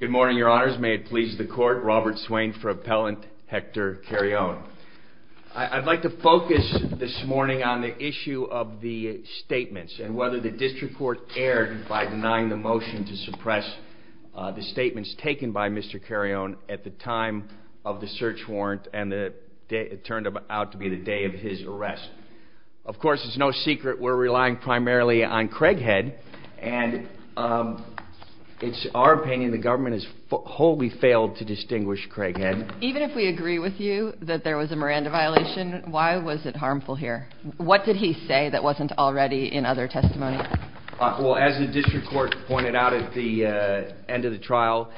Good morning, your honors. May it please the court, Robert Swain for appellant Hector Carreon. I'd like to focus this morning on the issue of the statements and whether the district court erred by denying the motion to suppress the statements taken by Mr. Carreon at the time of the search warrant and it turned out to be the day of his arrest. Of course it's no secret we're relying primarily on Craighead and it's our opinion the government has wholly failed to distinguish Craighead. Even if we agree with you that there was a Miranda violation, why was it harmful here? What did he say that wasn't already in other testimony? As the district court pointed out at the end of the trial,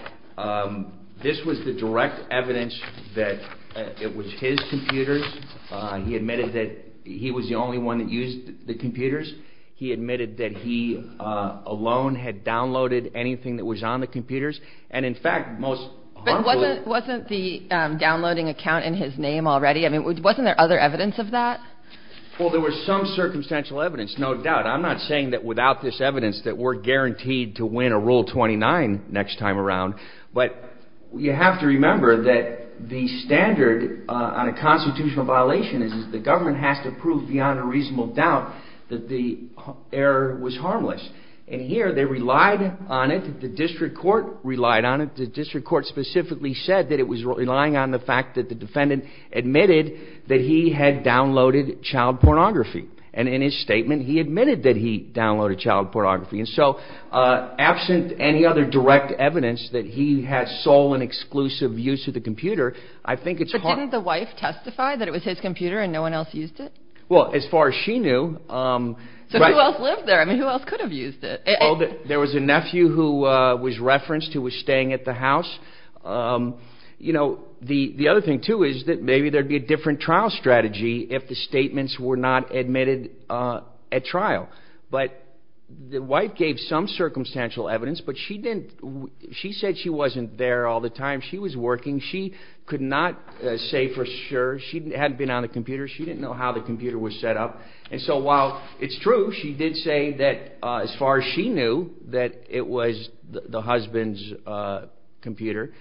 this was the direct evidence that it was his computers. He admitted that he was the only one that used the computers. He admitted that he alone had downloaded anything that was on the computers. But wasn't the downloading account in his name already? Wasn't there other evidence of that? Well there was some circumstantial evidence, no doubt. I'm not saying that without this evidence that we're guaranteed to win a rule 29 next time around. But you have to remember that the standard on a constitutional violation is that the government has to prove beyond a reasonable doubt that the error was harmless. And here they relied on it, the district court relied on it. The district court specifically said that it was relying on the fact that the defendant admitted that he had downloaded child pornography. And in his statement he admitted that he downloaded child pornography. And so absent any other direct evidence that he had sole and exclusive use of the computer, I think it's hard. But didn't the wife testify that it was his computer and no one else used it? Well as far as she knew. So who else lived there? I mean who else could have used it? There was a nephew who was referenced who was staying at the house. The other thing too is that maybe there would be a different trial strategy if the statements were not admitted at trial. But the wife gave some circumstantial evidence, but she said she wasn't there all the time. She was working. She could not say for sure. She hadn't been on the computer. She didn't know how the computer was set up. And so while it's true she did say that as far as she knew that it was the husband's computer.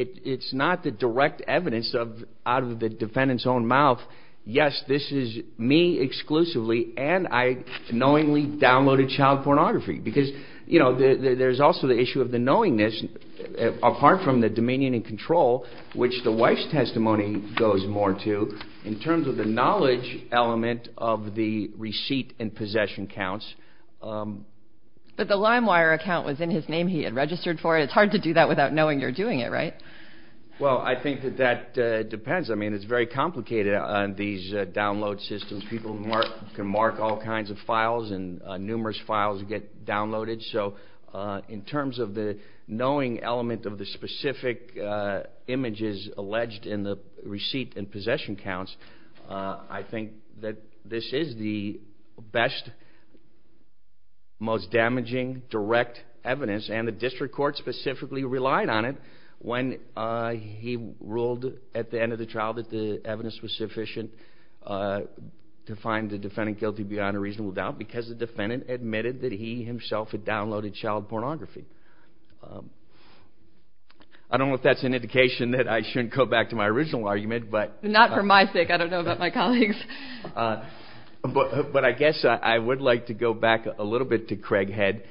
It's not the direct evidence out of the defendant's own mouth. Yes, this is me exclusively and I knowingly downloaded child pornography. Because there's also the issue of the knowingness apart from the dominion and control which the wife's testimony goes more to in terms of the knowledge element of the receipt and possession counts. But the LimeWire account was in his name. He had registered for it. It's hard to do that without knowing you're doing it, right? Well I think that that depends. I mean it's very complicated on these download systems. People can mark all kinds of files and numerous files get downloaded. So in terms of the knowing element of the specific images alleged in the receipt and possession counts, I think that this is the best, most damaging direct evidence. And the district court specifically relied on it when he ruled at the end of the trial that the evidence was sufficient. To find the defendant guilty beyond a reasonable doubt because the defendant admitted that he himself had downloaded child pornography. I don't know if that's an indication that I shouldn't go back to my original argument. Not for my sake. I don't know about my colleagues. But I guess I would like to go back a little bit to Craighead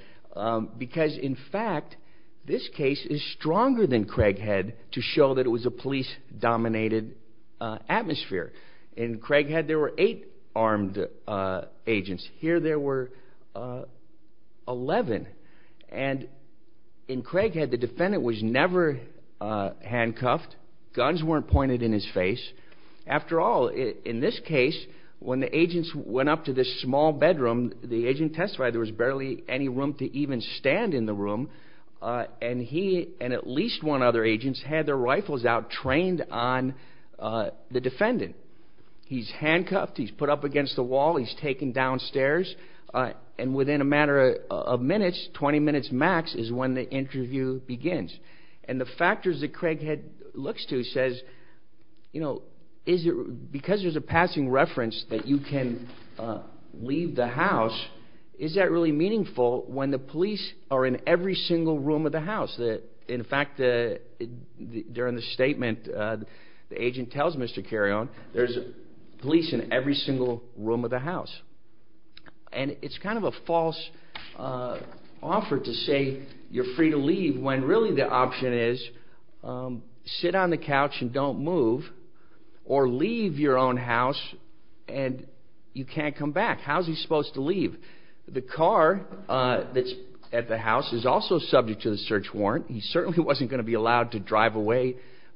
because in fact this case is stronger than Craighead to show that it was a police dominated atmosphere. In Craighead there were eight armed agents. Here there were 11. And in Craighead the defendant was never handcuffed. Guns weren't pointed in his face. After all, in this case, when the agents went up to this small bedroom, the agent testified there was barely any room to even stand in the room. And he and at least one other agent had their rifles out trained on the defendant. He's handcuffed. He's put up against the wall. He's taken downstairs. And within a matter of minutes, 20 minutes max, is when the interview begins. And the factors that Craighead looks to says, because there's a passing reference that you can leave the house, is that really meaningful when the police are in every single room of the house? In fact, during the statement the agent tells Mr. Carrion there's police in every single room of the house. And it's kind of a false offer to say you're free to leave when really the option is sit on the couch and don't move or leave your own house and you can't come back. How's he supposed to leave? The car that's at the house is also subject to the search warrant. He certainly wasn't going to be allowed to drive away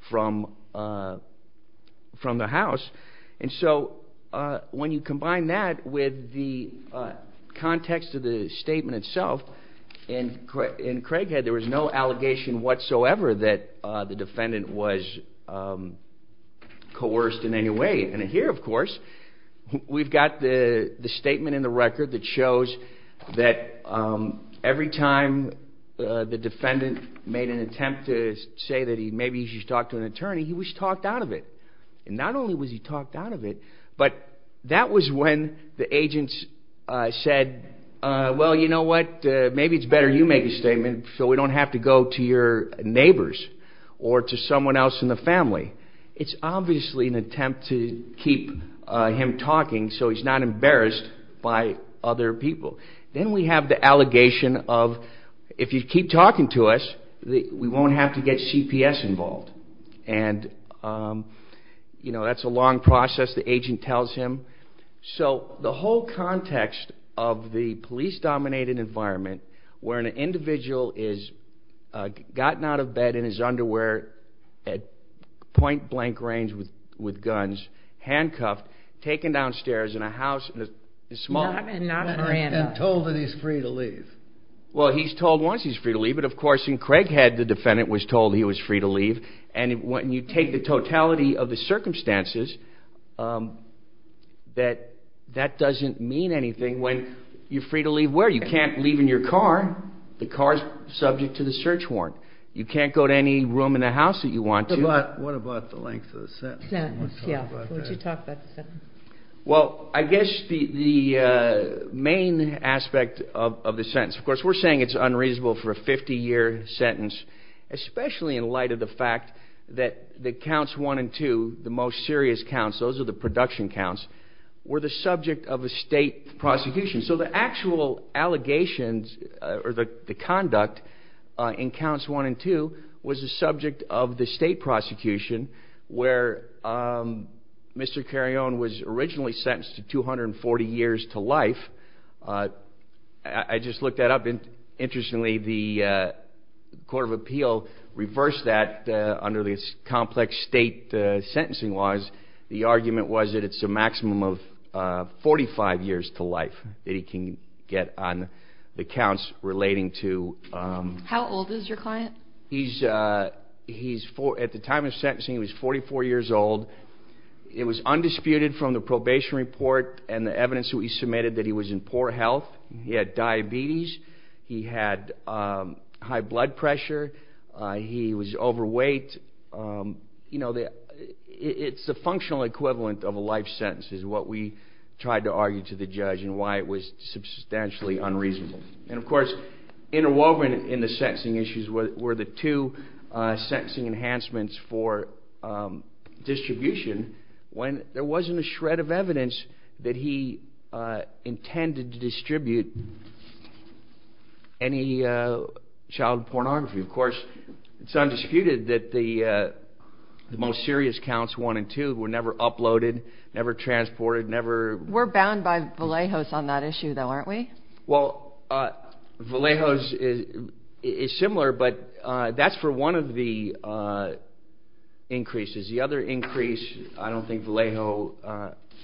from the house. And so when you combine that with the context of the statement itself, in Craighead there was no allegation whatsoever that the defendant was coerced in any way. And here, of course, we've got the statement in the record that shows that every time the defendant made an attempt to say that maybe he should talk to an attorney, he was talked out of it. And not only was he talked out of it, but that was when the agents said, well, you know what, maybe it's better you make a statement so we don't have to go to your neighbors or to someone else in the family. It's obviously an attempt to keep him talking so he's not embarrassed by other people. Then we have the allegation of if you keep talking to us, we won't have to get CPS involved. And that's a long process, the agent tells him. So the whole context of the police-dominated environment, where an individual has gotten out of bed in his underwear at point-blank range with guns, handcuffed, taken downstairs in a house in a small town. Not Miranda. And told that he's free to leave. Well, he's told once he's free to leave, but of course in Craighead the defendant was told he was free to leave. And when you take the totality of the circumstances, that doesn't mean anything when you're free to leave where? You can't leave in your car. The car's subject to the search warrant. You can't go to any room in the house that you want to. What about the length of the sentence? Yeah, would you talk about the sentence? Well, I guess the main aspect of the sentence, of course we're saying it's unreasonable for a 50-year sentence, especially in light of the fact that the counts one and two, the most serious counts, those are the production counts, were the subject of a state prosecution. So the actual allegations or the conduct in counts one and two was the subject of the state prosecution where Mr. Carrion was originally sentenced to 240 years to life. I just looked that up. Interestingly, the Court of Appeal reversed that under the complex state sentencing laws. The argument was that it's a maximum of 45 years to life that he can get on the counts relating to? How old is your client? At the time of sentencing, he was 44 years old. It was undisputed from the probation report and the evidence that he submitted that he was in poor health. He had diabetes. He had high blood pressure. He was overweight. It's the functional equivalent of a life sentence is what we tried to argue to the judge and why it was substantially unreasonable. And, of course, interwoven in the sentencing issues were the two sentencing enhancements for distribution when there wasn't a shred of evidence that he intended to distribute any child pornography. Of course, it's undisputed that the most serious counts, one and two, were never uploaded, never transported. We're bound by Vallejos on that issue, though, aren't we? Well, Vallejos is similar, but that's for one of the increases. The other increase I don't think Vallejos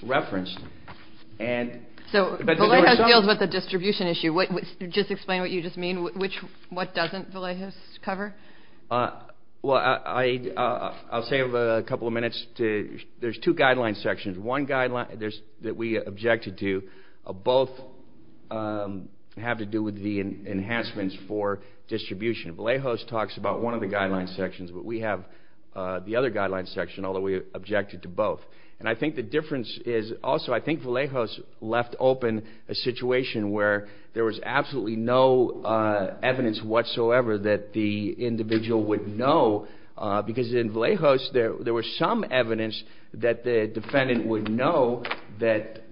referenced. So Vallejos deals with the distribution issue. Just explain what you just mean. What doesn't Vallejos cover? Well, I'll save a couple of minutes. There's two guideline sections, one that we objected to. Both have to do with the enhancements for distribution. Vallejos talks about one of the guideline sections, but we have the other guideline section, although we objected to both. And I think the difference is also I think Vallejos left open a situation where there was absolutely no evidence whatsoever that the individual would know because in Vallejos there was some evidence that the defendant would know that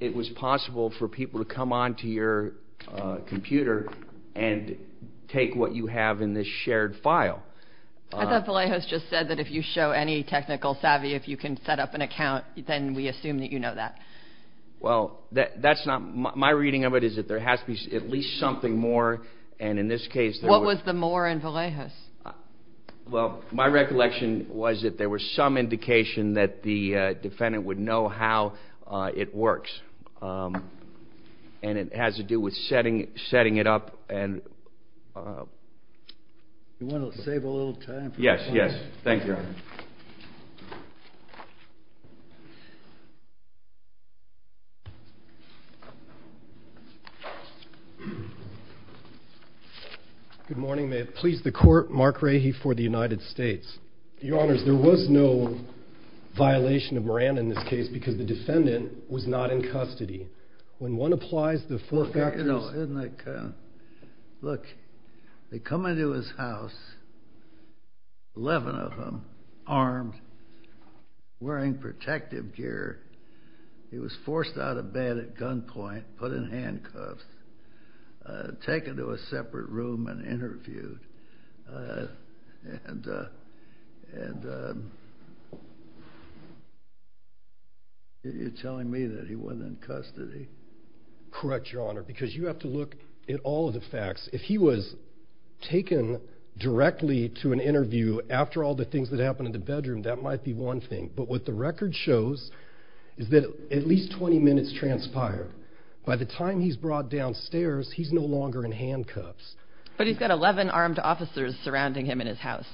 it was possible for people to come onto your computer and take what you have in this shared file. I thought Vallejos just said that if you show any technical savvy, if you can set up an account, then we assume that you know that. Well, my reading of it is that there has to be at least something more. What was the more in Vallejos? Well, my recollection was that there was some indication that the defendant would know how it works. And it has to do with setting it up. Do you want to save a little time? Yes, yes. Thank you, Your Honor. Good morning. May it please the Court. Mark Rahe for the United States. Your Honors, there was no violation of Moran in this case because the defendant was not in custody. Look, they come into his house, 11 of them, armed, wearing protective gear. He was forced out of bed at gunpoint, put in handcuffs, taken to a separate room and interviewed. And you're telling me that he wasn't in custody? Correct, Your Honor, because you have to look at all of the facts. If he was taken directly to an interview after all the things that happened in the bedroom, that might be one thing. But what the record shows is that at least 20 minutes transpired. By the time he's brought downstairs, he's no longer in handcuffs. But he's got 11 armed officers surrounding him in his house.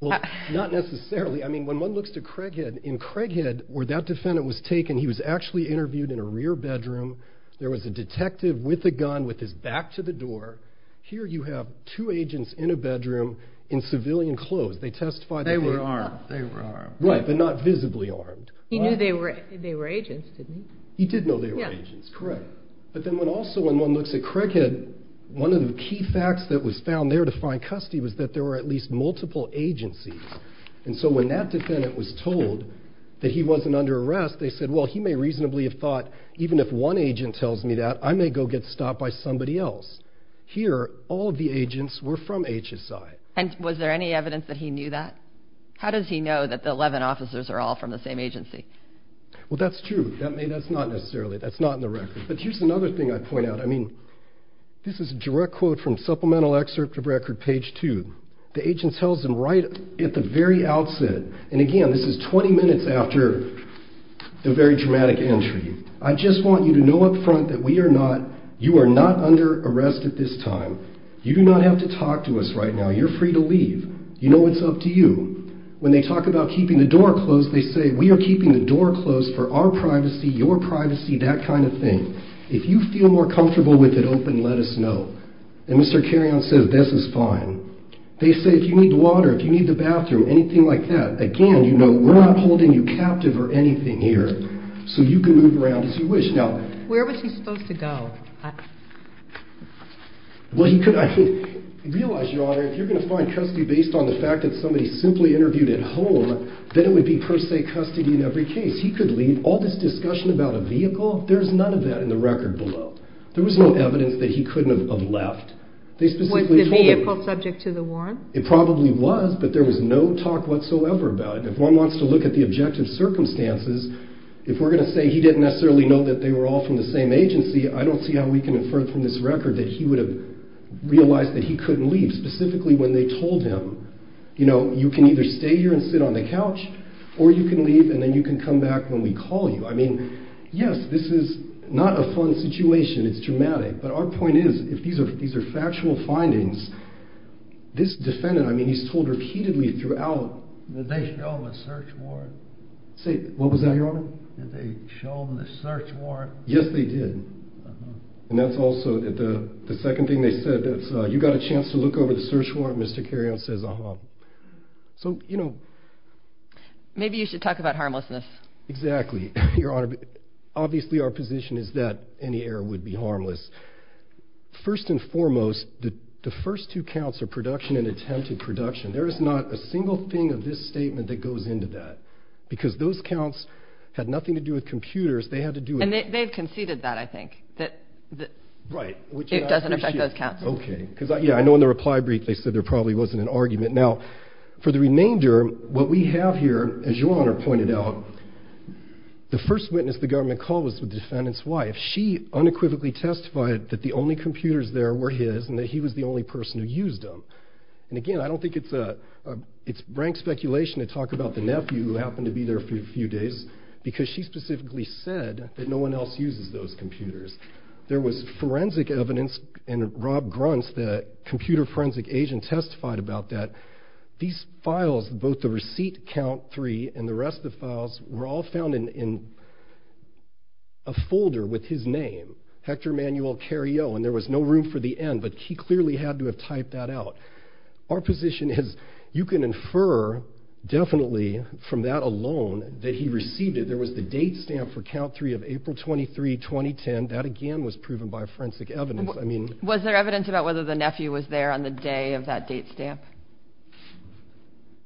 Well, not necessarily. I mean, when one looks to Craighead, in Craighead, where that defendant was taken, he was actually interviewed in a rear bedroom. There was a detective with a gun with his back to the door. Here you have two agents in a bedroom in civilian clothes. They testified that they were armed. They were armed. Right, but not visibly armed. He knew they were agents, didn't he? He did know they were agents, correct. But then also when one looks at Craighead, one of the key facts that was found there to find custody was that there were at least multiple agencies. And so when that defendant was told that he wasn't under arrest, they said, well, he may reasonably have thought, even if one agent tells me that, I may go get stopped by somebody else. Here, all of the agents were from HSI. And was there any evidence that he knew that? How does he know that the 11 officers are all from the same agency? Well, that's true. That's not necessarily. That's not in the record. But here's another thing I'd point out. I mean, this is a direct quote from Supplemental Excerpt of Record, page 2. The agent tells them right at the very outset, and again, this is 20 minutes after the very dramatic entry. I just want you to know up front that we are not, you are not under arrest at this time. You do not have to talk to us right now. You're free to leave. You know it's up to you. When they talk about keeping the door closed, they say, we are keeping the door closed for our privacy, your privacy, that kind of thing. If you feel more comfortable with it open, let us know. And Mr. Carrion says, this is fine. They say, if you need water, if you need the bathroom, anything like that, again, you know, we're not holding you captive or anything here. So you can move around as you wish. Now, where was he supposed to go? Well, he could, I mean, realize, Your Honor, if you're going to find custody based on the fact that somebody simply interviewed at home, then it would be per se custody in every case. He could leave. All this discussion about a vehicle, there's none of that in the record below. There was no evidence that he couldn't have left. They specifically told him. Was the vehicle subject to the warrant? It probably was, but there was no talk whatsoever about it. If one wants to look at the objective circumstances, if we're going to say he didn't necessarily know that they were all from the same agency, I don't see how we can infer from this record that he would have realized that he couldn't leave, specifically when they told him. You know, you can either stay here and sit on the couch, or you can leave and then you can come back when we call you. I mean, yes, this is not a fun situation. It's dramatic. But our point is, if these are factual findings, this defendant, I mean, he's told repeatedly throughout. Did they show him a search warrant? Say, what was that, Your Honor? Did they show him the search warrant? Yes, they did. And that's also the second thing they said. You got a chance to look over the search warrant, Mr. Carrion says, uh-huh. So, you know. Maybe you should talk about harmlessness. Exactly, Your Honor. Obviously, our position is that any error would be harmless. First and foremost, the first two counts are production and attempted production. There is not a single thing of this statement that goes into that, because those counts had nothing to do with computers. They had to do it. And they've conceded that, I think. Right. It doesn't affect those counts. Okay. Because, yeah, I know in the reply brief they said there probably wasn't an argument. Now, for the remainder, what we have here, as Your Honor pointed out, the first witness the government called was the defendant's wife. She unequivocally testified that the only computers there were his and that he was the only person who used them. And, again, I don't think it's rank speculation to talk about the nephew who happened to be there for a few days, because she specifically said that no one else uses those computers. There was forensic evidence, and Rob Gruntz, the computer forensic agent, testified about that. These files, both the receipt count three and the rest of the files, were all found in a folder with his name, Hector Manuel Carillo, and there was no room for the N, but he clearly had to have typed that out. Our position is you can infer definitely from that alone that he received it. There was the date stamp for count three of April 23, 2010. That, again, was proven by forensic evidence. Was there evidence about whether the nephew was there on the day of that date stamp?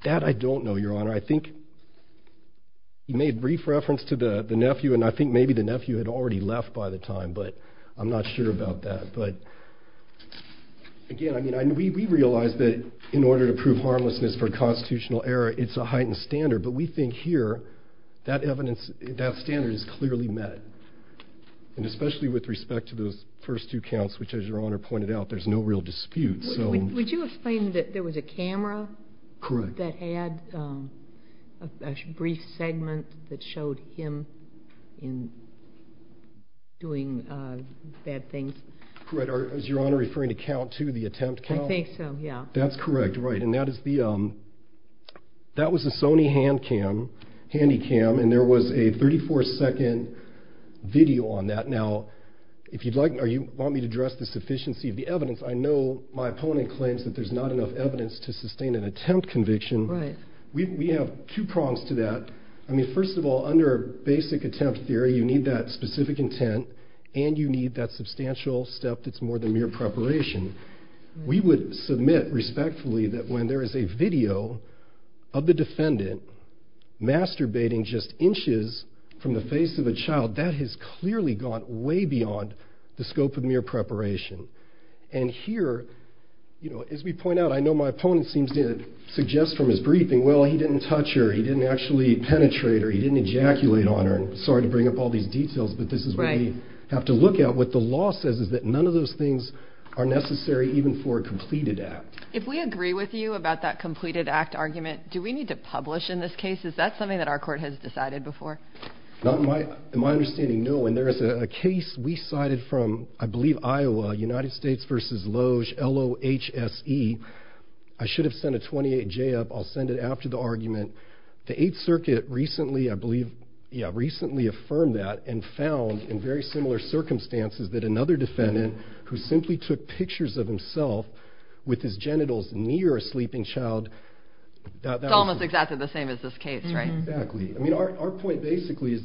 That I don't know, Your Honor. I think he made brief reference to the nephew, and I think maybe the nephew had already left by the time, but I'm not sure about that. Again, we realize that in order to prove harmlessness for a constitutional error, it's a heightened standard, but we think here that standard is clearly met, and especially with respect to those first two counts, which, as Your Honor pointed out, there's no real dispute. Would you explain that there was a camera that had a brief segment that showed him doing bad things? Correct. Is Your Honor referring to count two, the attempt count? I think so, yeah. That's correct, right, and that was a Sony hand cam, handy cam, and there was a 34-second video on that. Now, if you want me to address the sufficiency of the evidence, I know my opponent claims that there's not enough evidence to sustain an attempt conviction. Right. We have two prongs to that. I mean, first of all, under basic attempt theory, you need that specific intent, and you need that substantial step that's more than mere preparation. We would submit respectfully that when there is a video of the defendant masturbating just inches from the face of a child, that has clearly gone way beyond the scope of mere preparation. And here, as we point out, I know my opponent seems to suggest from his briefing, well, he didn't touch her, he didn't actually penetrate her, he didn't ejaculate on her. Sorry to bring up all these details, but this is what we have to look at. What the law says is that none of those things are necessary even for a completed act. If we agree with you about that completed act argument, do we need to publish in this case? Is that something that our court has decided before? In my understanding, no, and there is a case we cited from, I believe, Iowa, United States v. Loge, L-O-H-S-E. I should have sent a 28-J up. I'll send it after the argument. The 8th Circuit recently, I believe, yeah, recently affirmed that and found in very similar circumstances that another defendant who simply took pictures of himself with his genitals near a sleeping child. It's almost exactly the same as this case, right? Exactly. I mean, our point basically is,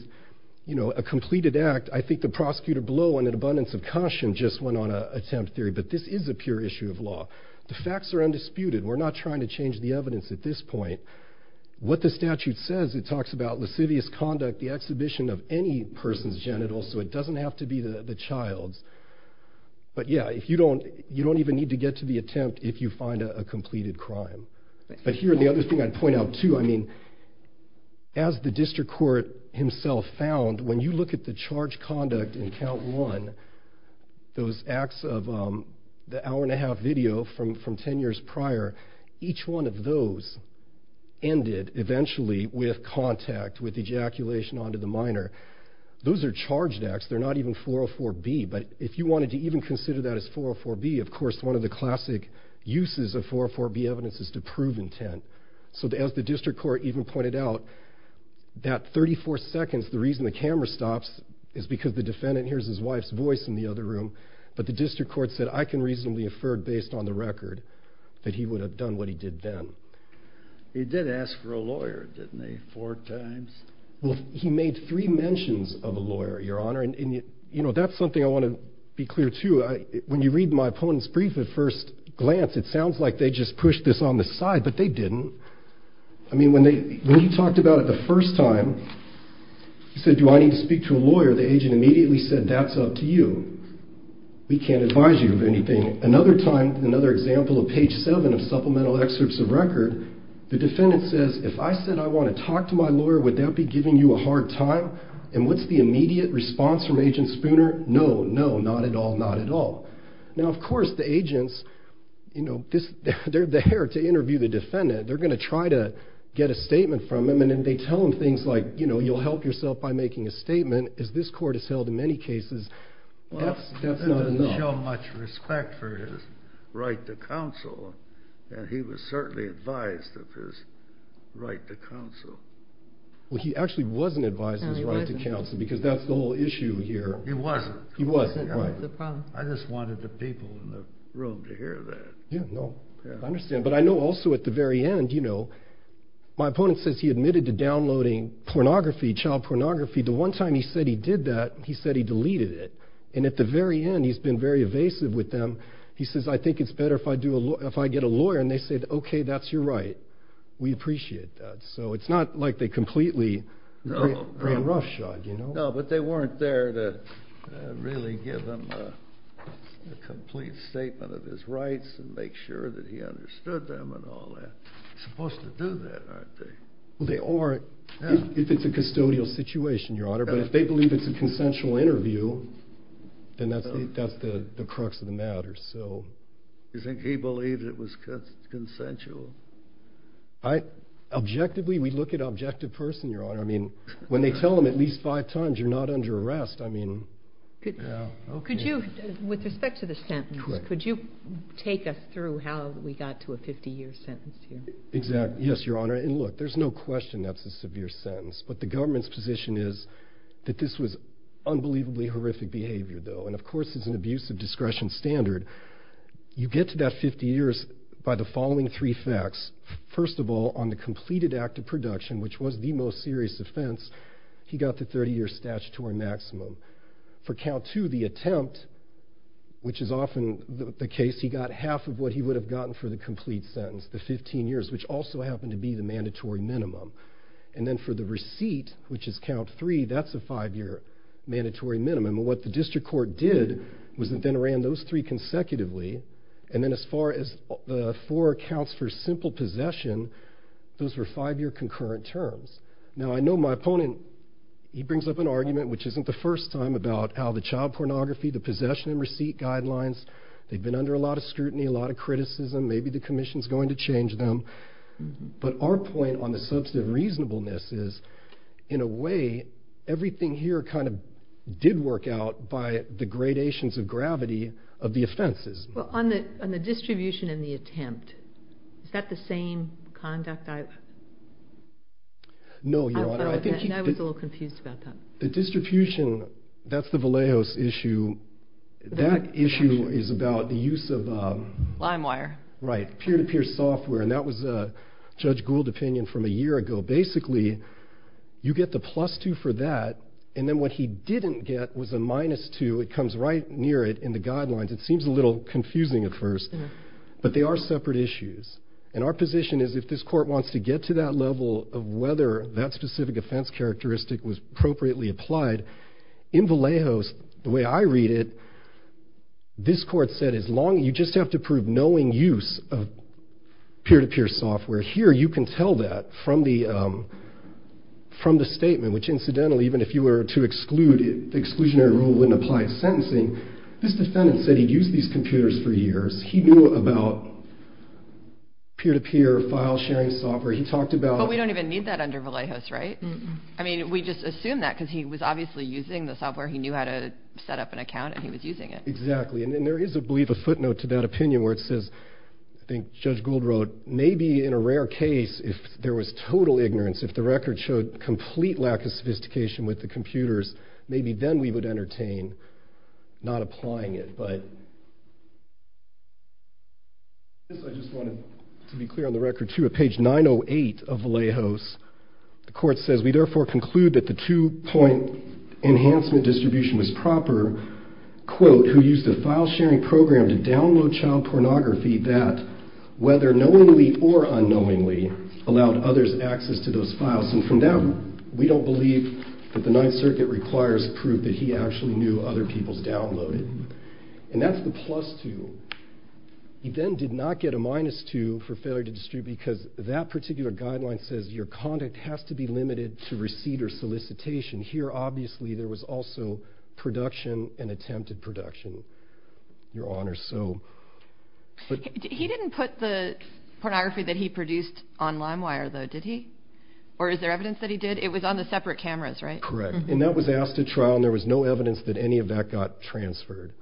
you know, a completed act, I think the prosecutor blow and an abundance of caution just went on an attempt theory, but this is a pure issue of law. The facts are undisputed. We're not trying to change the evidence at this point. What the statute says, it talks about lascivious conduct, the exhibition of any person's genitals, so it doesn't have to be the child's. But yeah, you don't even need to get to the attempt if you find a completed crime. But here, the other thing I'd point out too, I mean, as the district court himself found, when you look at the charged conduct in count one, those acts of the hour-and-a-half video from 10 years prior, each one of those ended eventually with contact, with ejaculation onto the minor. Those are charged acts. They're not even 404B, but if you wanted to even consider that as 404B, of course, one of the classic uses of 404B evidence is to prove intent. So as the district court even pointed out, that 34 seconds, the reason the camera stops is because the defendant hears his wife's voice in the other room, but the district court said, I can reasonably infer based on the record that he would have done what he did then. He did ask for a lawyer, didn't he, four times? Well, he made three mentions of a lawyer, Your Honor, and that's something I want to be clear too. When you read my opponent's brief at first glance, it sounds like they just pushed this on the side, but they didn't. I mean, when he talked about it the first time, he said, do I need to speak to a lawyer? The agent immediately said, that's up to you. We can't advise you of anything. Another time, another example of page seven of supplemental excerpts of record, the defendant says, if I said I want to talk to my lawyer, would that be giving you a hard time? And what's the immediate response from Agent Spooner? No, no, not at all, not at all. Now, of course, the agents, you know, they're there to interview the defendant. They're going to try to get a statement from him, and they tell him things like, you know, you'll help yourself by making a statement, as this court has held in many cases. That's not enough. He didn't show much respect for his right to counsel, and he was certainly advised of his right to counsel. Well, he actually wasn't advised of his right to counsel, because that's the whole issue here. He wasn't. He wasn't, right. I just wanted the people in the room to hear that. Yeah, no, I understand. But I know also at the very end, you know, my opponent says he admitted to downloading pornography, child pornography. The one time he said he did that, he said he deleted it. And at the very end, he's been very evasive with them. He says, I think it's better if I get a lawyer, and they said, okay, that's your right. We appreciate that. So it's not like they completely ran roughshod, you know. No, but they weren't there to really give him a complete statement of his rights and make sure that he understood them and all that. They're supposed to do that, aren't they? Well, they are if it's a custodial situation, Your Honor. But if they believe it's a consensual interview, then that's the crux of the matter. You think he believed it was consensual? Objectively, we look at an objective person, Your Honor. I mean, when they tell them at least five times, you're not under arrest. I mean, yeah. Could you, with respect to the sentence, could you take us through how we got to a 50-year sentence here? Exactly. Yes, Your Honor. And look, there's no question that's a severe sentence. But the government's position is that this was unbelievably horrific behavior, though. And of course, it's an abuse of discretion standard. You get to that 50 years by the following three facts. First of all, on the completed act of production, which was the most serious offense, he got the 30-year statutory maximum. For count two, the attempt, which is often the case, he got half of what he would have gotten for the complete sentence, the 15 years, which also happened to be the mandatory minimum. And then for the receipt, which is count three, that's a five-year mandatory minimum. What the district court did was it then ran those three consecutively. And then as far as the four counts for simple possession, those were five-year concurrent terms. Now, I know my opponent, he brings up an argument, which isn't the first time, about how the child pornography, the possession and receipt guidelines, they've been under a lot of scrutiny, a lot of criticism. Maybe the commission's going to change them. But our point on the substantive reasonableness is, in a way, everything here kind of did work out by the gradations of gravity of the offenses. Well, on the distribution and the attempt, is that the same conduct? No, Your Honor. I was a little confused about that. The distribution, that's the Vallejos issue. That issue is about the use of... Lime wire. Right, peer-to-peer software, and that was Judge Gould's opinion from a year ago. Basically, you get the plus two for that, and then what he didn't get was a minus two. It comes right near it in the guidelines. It seems a little confusing at first, but they are separate issues. And our position is, if this court wants to get to that level of whether that specific offense characteristic was appropriately applied, in Vallejos, the way I read it, this court said, you just have to prove knowing use of peer-to-peer software. Here, you can tell that from the statement, which incidentally, even if you were to exclude it, the exclusionary rule wouldn't apply to sentencing. This defendant said he'd used these computers for years. He knew about peer-to-peer file sharing software. He talked about... But we don't even need that under Vallejos, right? I mean, we just assume that, because he was obviously using the software. He knew how to set up an account, and he was using it. Exactly, and there is, I believe, a footnote to that opinion where it says, I think Judge Gould wrote, maybe in a rare case, if there was total ignorance, if the record showed complete lack of sophistication with the computers, maybe then we would entertain not applying it. I just wanted to be clear on the record, too. At page 908 of Vallejos, the court says, we therefore conclude that the two-point enhancement distribution was proper, quote, who used a file-sharing program to download child pornography that, whether knowingly or unknowingly, allowed others access to those files. And from that, we don't believe that the Ninth Circuit requires proof that he actually knew other people's downloaded. And that's the plus two. He then did not get a minus two for failure to distribute, because that particular guideline says your conduct has to be limited to receipt or solicitation. Here, obviously, there was also production and attempted production, Your Honor. He didn't put the pornography that he produced on LimeWire, though, did he? Or is there evidence that he did? It was on the separate cameras, right? Correct. And that was asked at trial, and there was no evidence that any of that got transferred.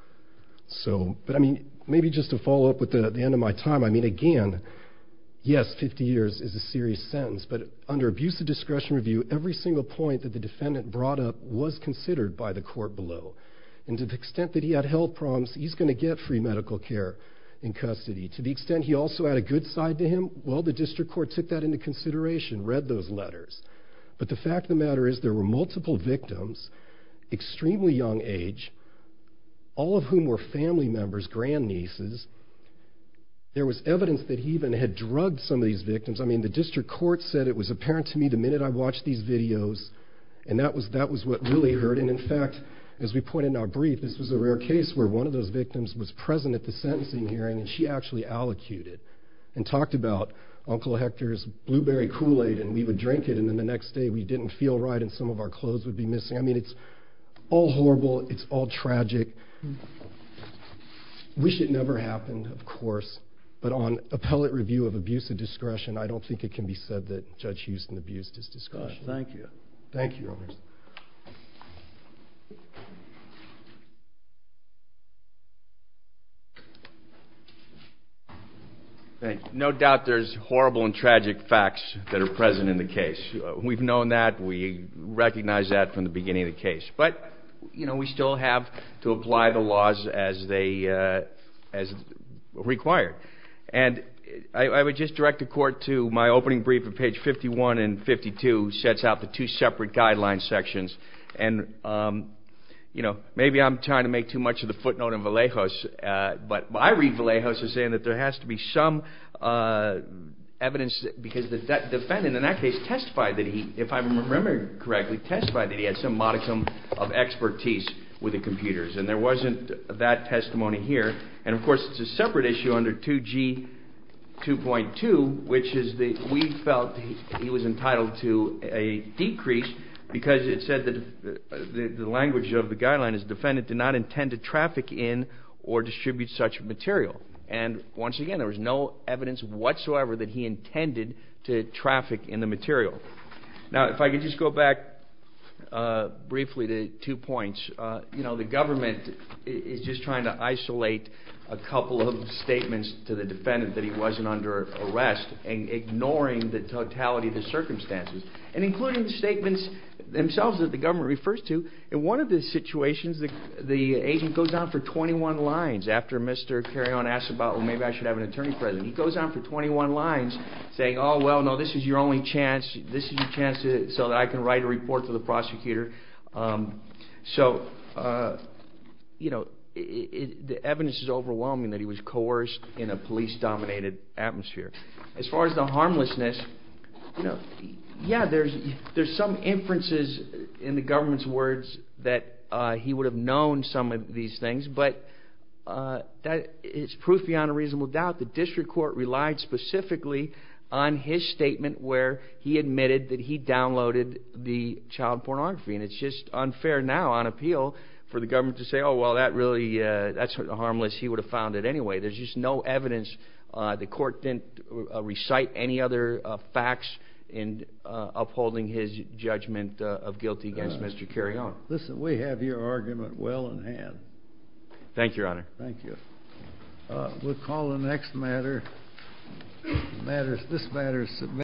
But, I mean, maybe just to follow up with the end of my time. I mean, again, yes, 50 years is a serious sentence, but under abusive discretion review, every single point that the defendant brought up was considered by the court below. And to the extent that he had health problems, he's going to get free medical care in custody. To the extent he also had a good side to him, well, the district court took that into consideration, read those letters. But the fact of the matter is there were multiple victims, extremely young age, all of whom were family members, grandnieces. There was evidence that he even had drugged some of these victims. I mean, the district court said it was apparent to me the minute I watched these videos, and that was what really hurt. And, in fact, as we point out in our brief, this was a rare case where one of those victims was present at the sentencing hearing, and she actually allocuted and talked about Uncle Hector's blueberry Kool-Aid, and we would drink it, and then the next day we didn't feel right and some of our clothes would be missing. I mean, it's all horrible. It's all tragic. Wish it never happened, of course, but on appellate review of abusive discretion, I don't think it can be said that Judge Houston abused his discretion. Thank you. Thank you, Your Honors. Thank you. No doubt there's horrible and tragic facts that are present in the case. We've known that. We recognized that from the beginning of the case. But, you know, we still have to apply the laws as required. And I would just direct the Court to my opening brief of page 51 and 52, which sets out the two separate guideline sections. And, you know, maybe I'm trying to make too much of the footnote in Vallejos, but I read Vallejos as saying that there has to be some evidence because the defendant in that case testified that he, if I remember correctly, testified that he had some modicum of expertise with the computers, and there wasn't that testimony here. And, of course, it's a separate issue under 2G2.2, which is that we felt he was entitled to a decrease because it said that the language of the guideline is the defendant did not intend to traffic in or distribute such material. And, once again, there was no evidence whatsoever that he intended to traffic in the material. Now, if I could just go back briefly to two points. You know, the government is just trying to isolate a couple of statements to the defendant that he wasn't under arrest, ignoring the totality of the circumstances, and including the statements themselves that the government refers to. In one of the situations, the agent goes on for 21 lines after Mr. Carreon asks about, well, maybe I should have an attorney present. He goes on for 21 lines saying, oh, well, no, this is your only chance. This is your chance so that I can write a report to the prosecutor. So, you know, the evidence is overwhelming that he was coerced in a police-dominated atmosphere. As far as the harmlessness, you know, yeah, there's some inferences in the government's words that he would have known some of these things, but it's proof beyond a reasonable doubt the district court relied specifically on his statement where he admitted that he downloaded the child pornography. And it's just unfair now on appeal for the government to say, oh, well, that's harmless. He would have found it anyway. There's just no evidence. The court didn't recite any other facts in upholding his judgment of guilty against Mr. Carreon. Listen, we have your argument well in hand. Thank you, Your Honor. Thank you. We'll call the next matter. This matter is submitted.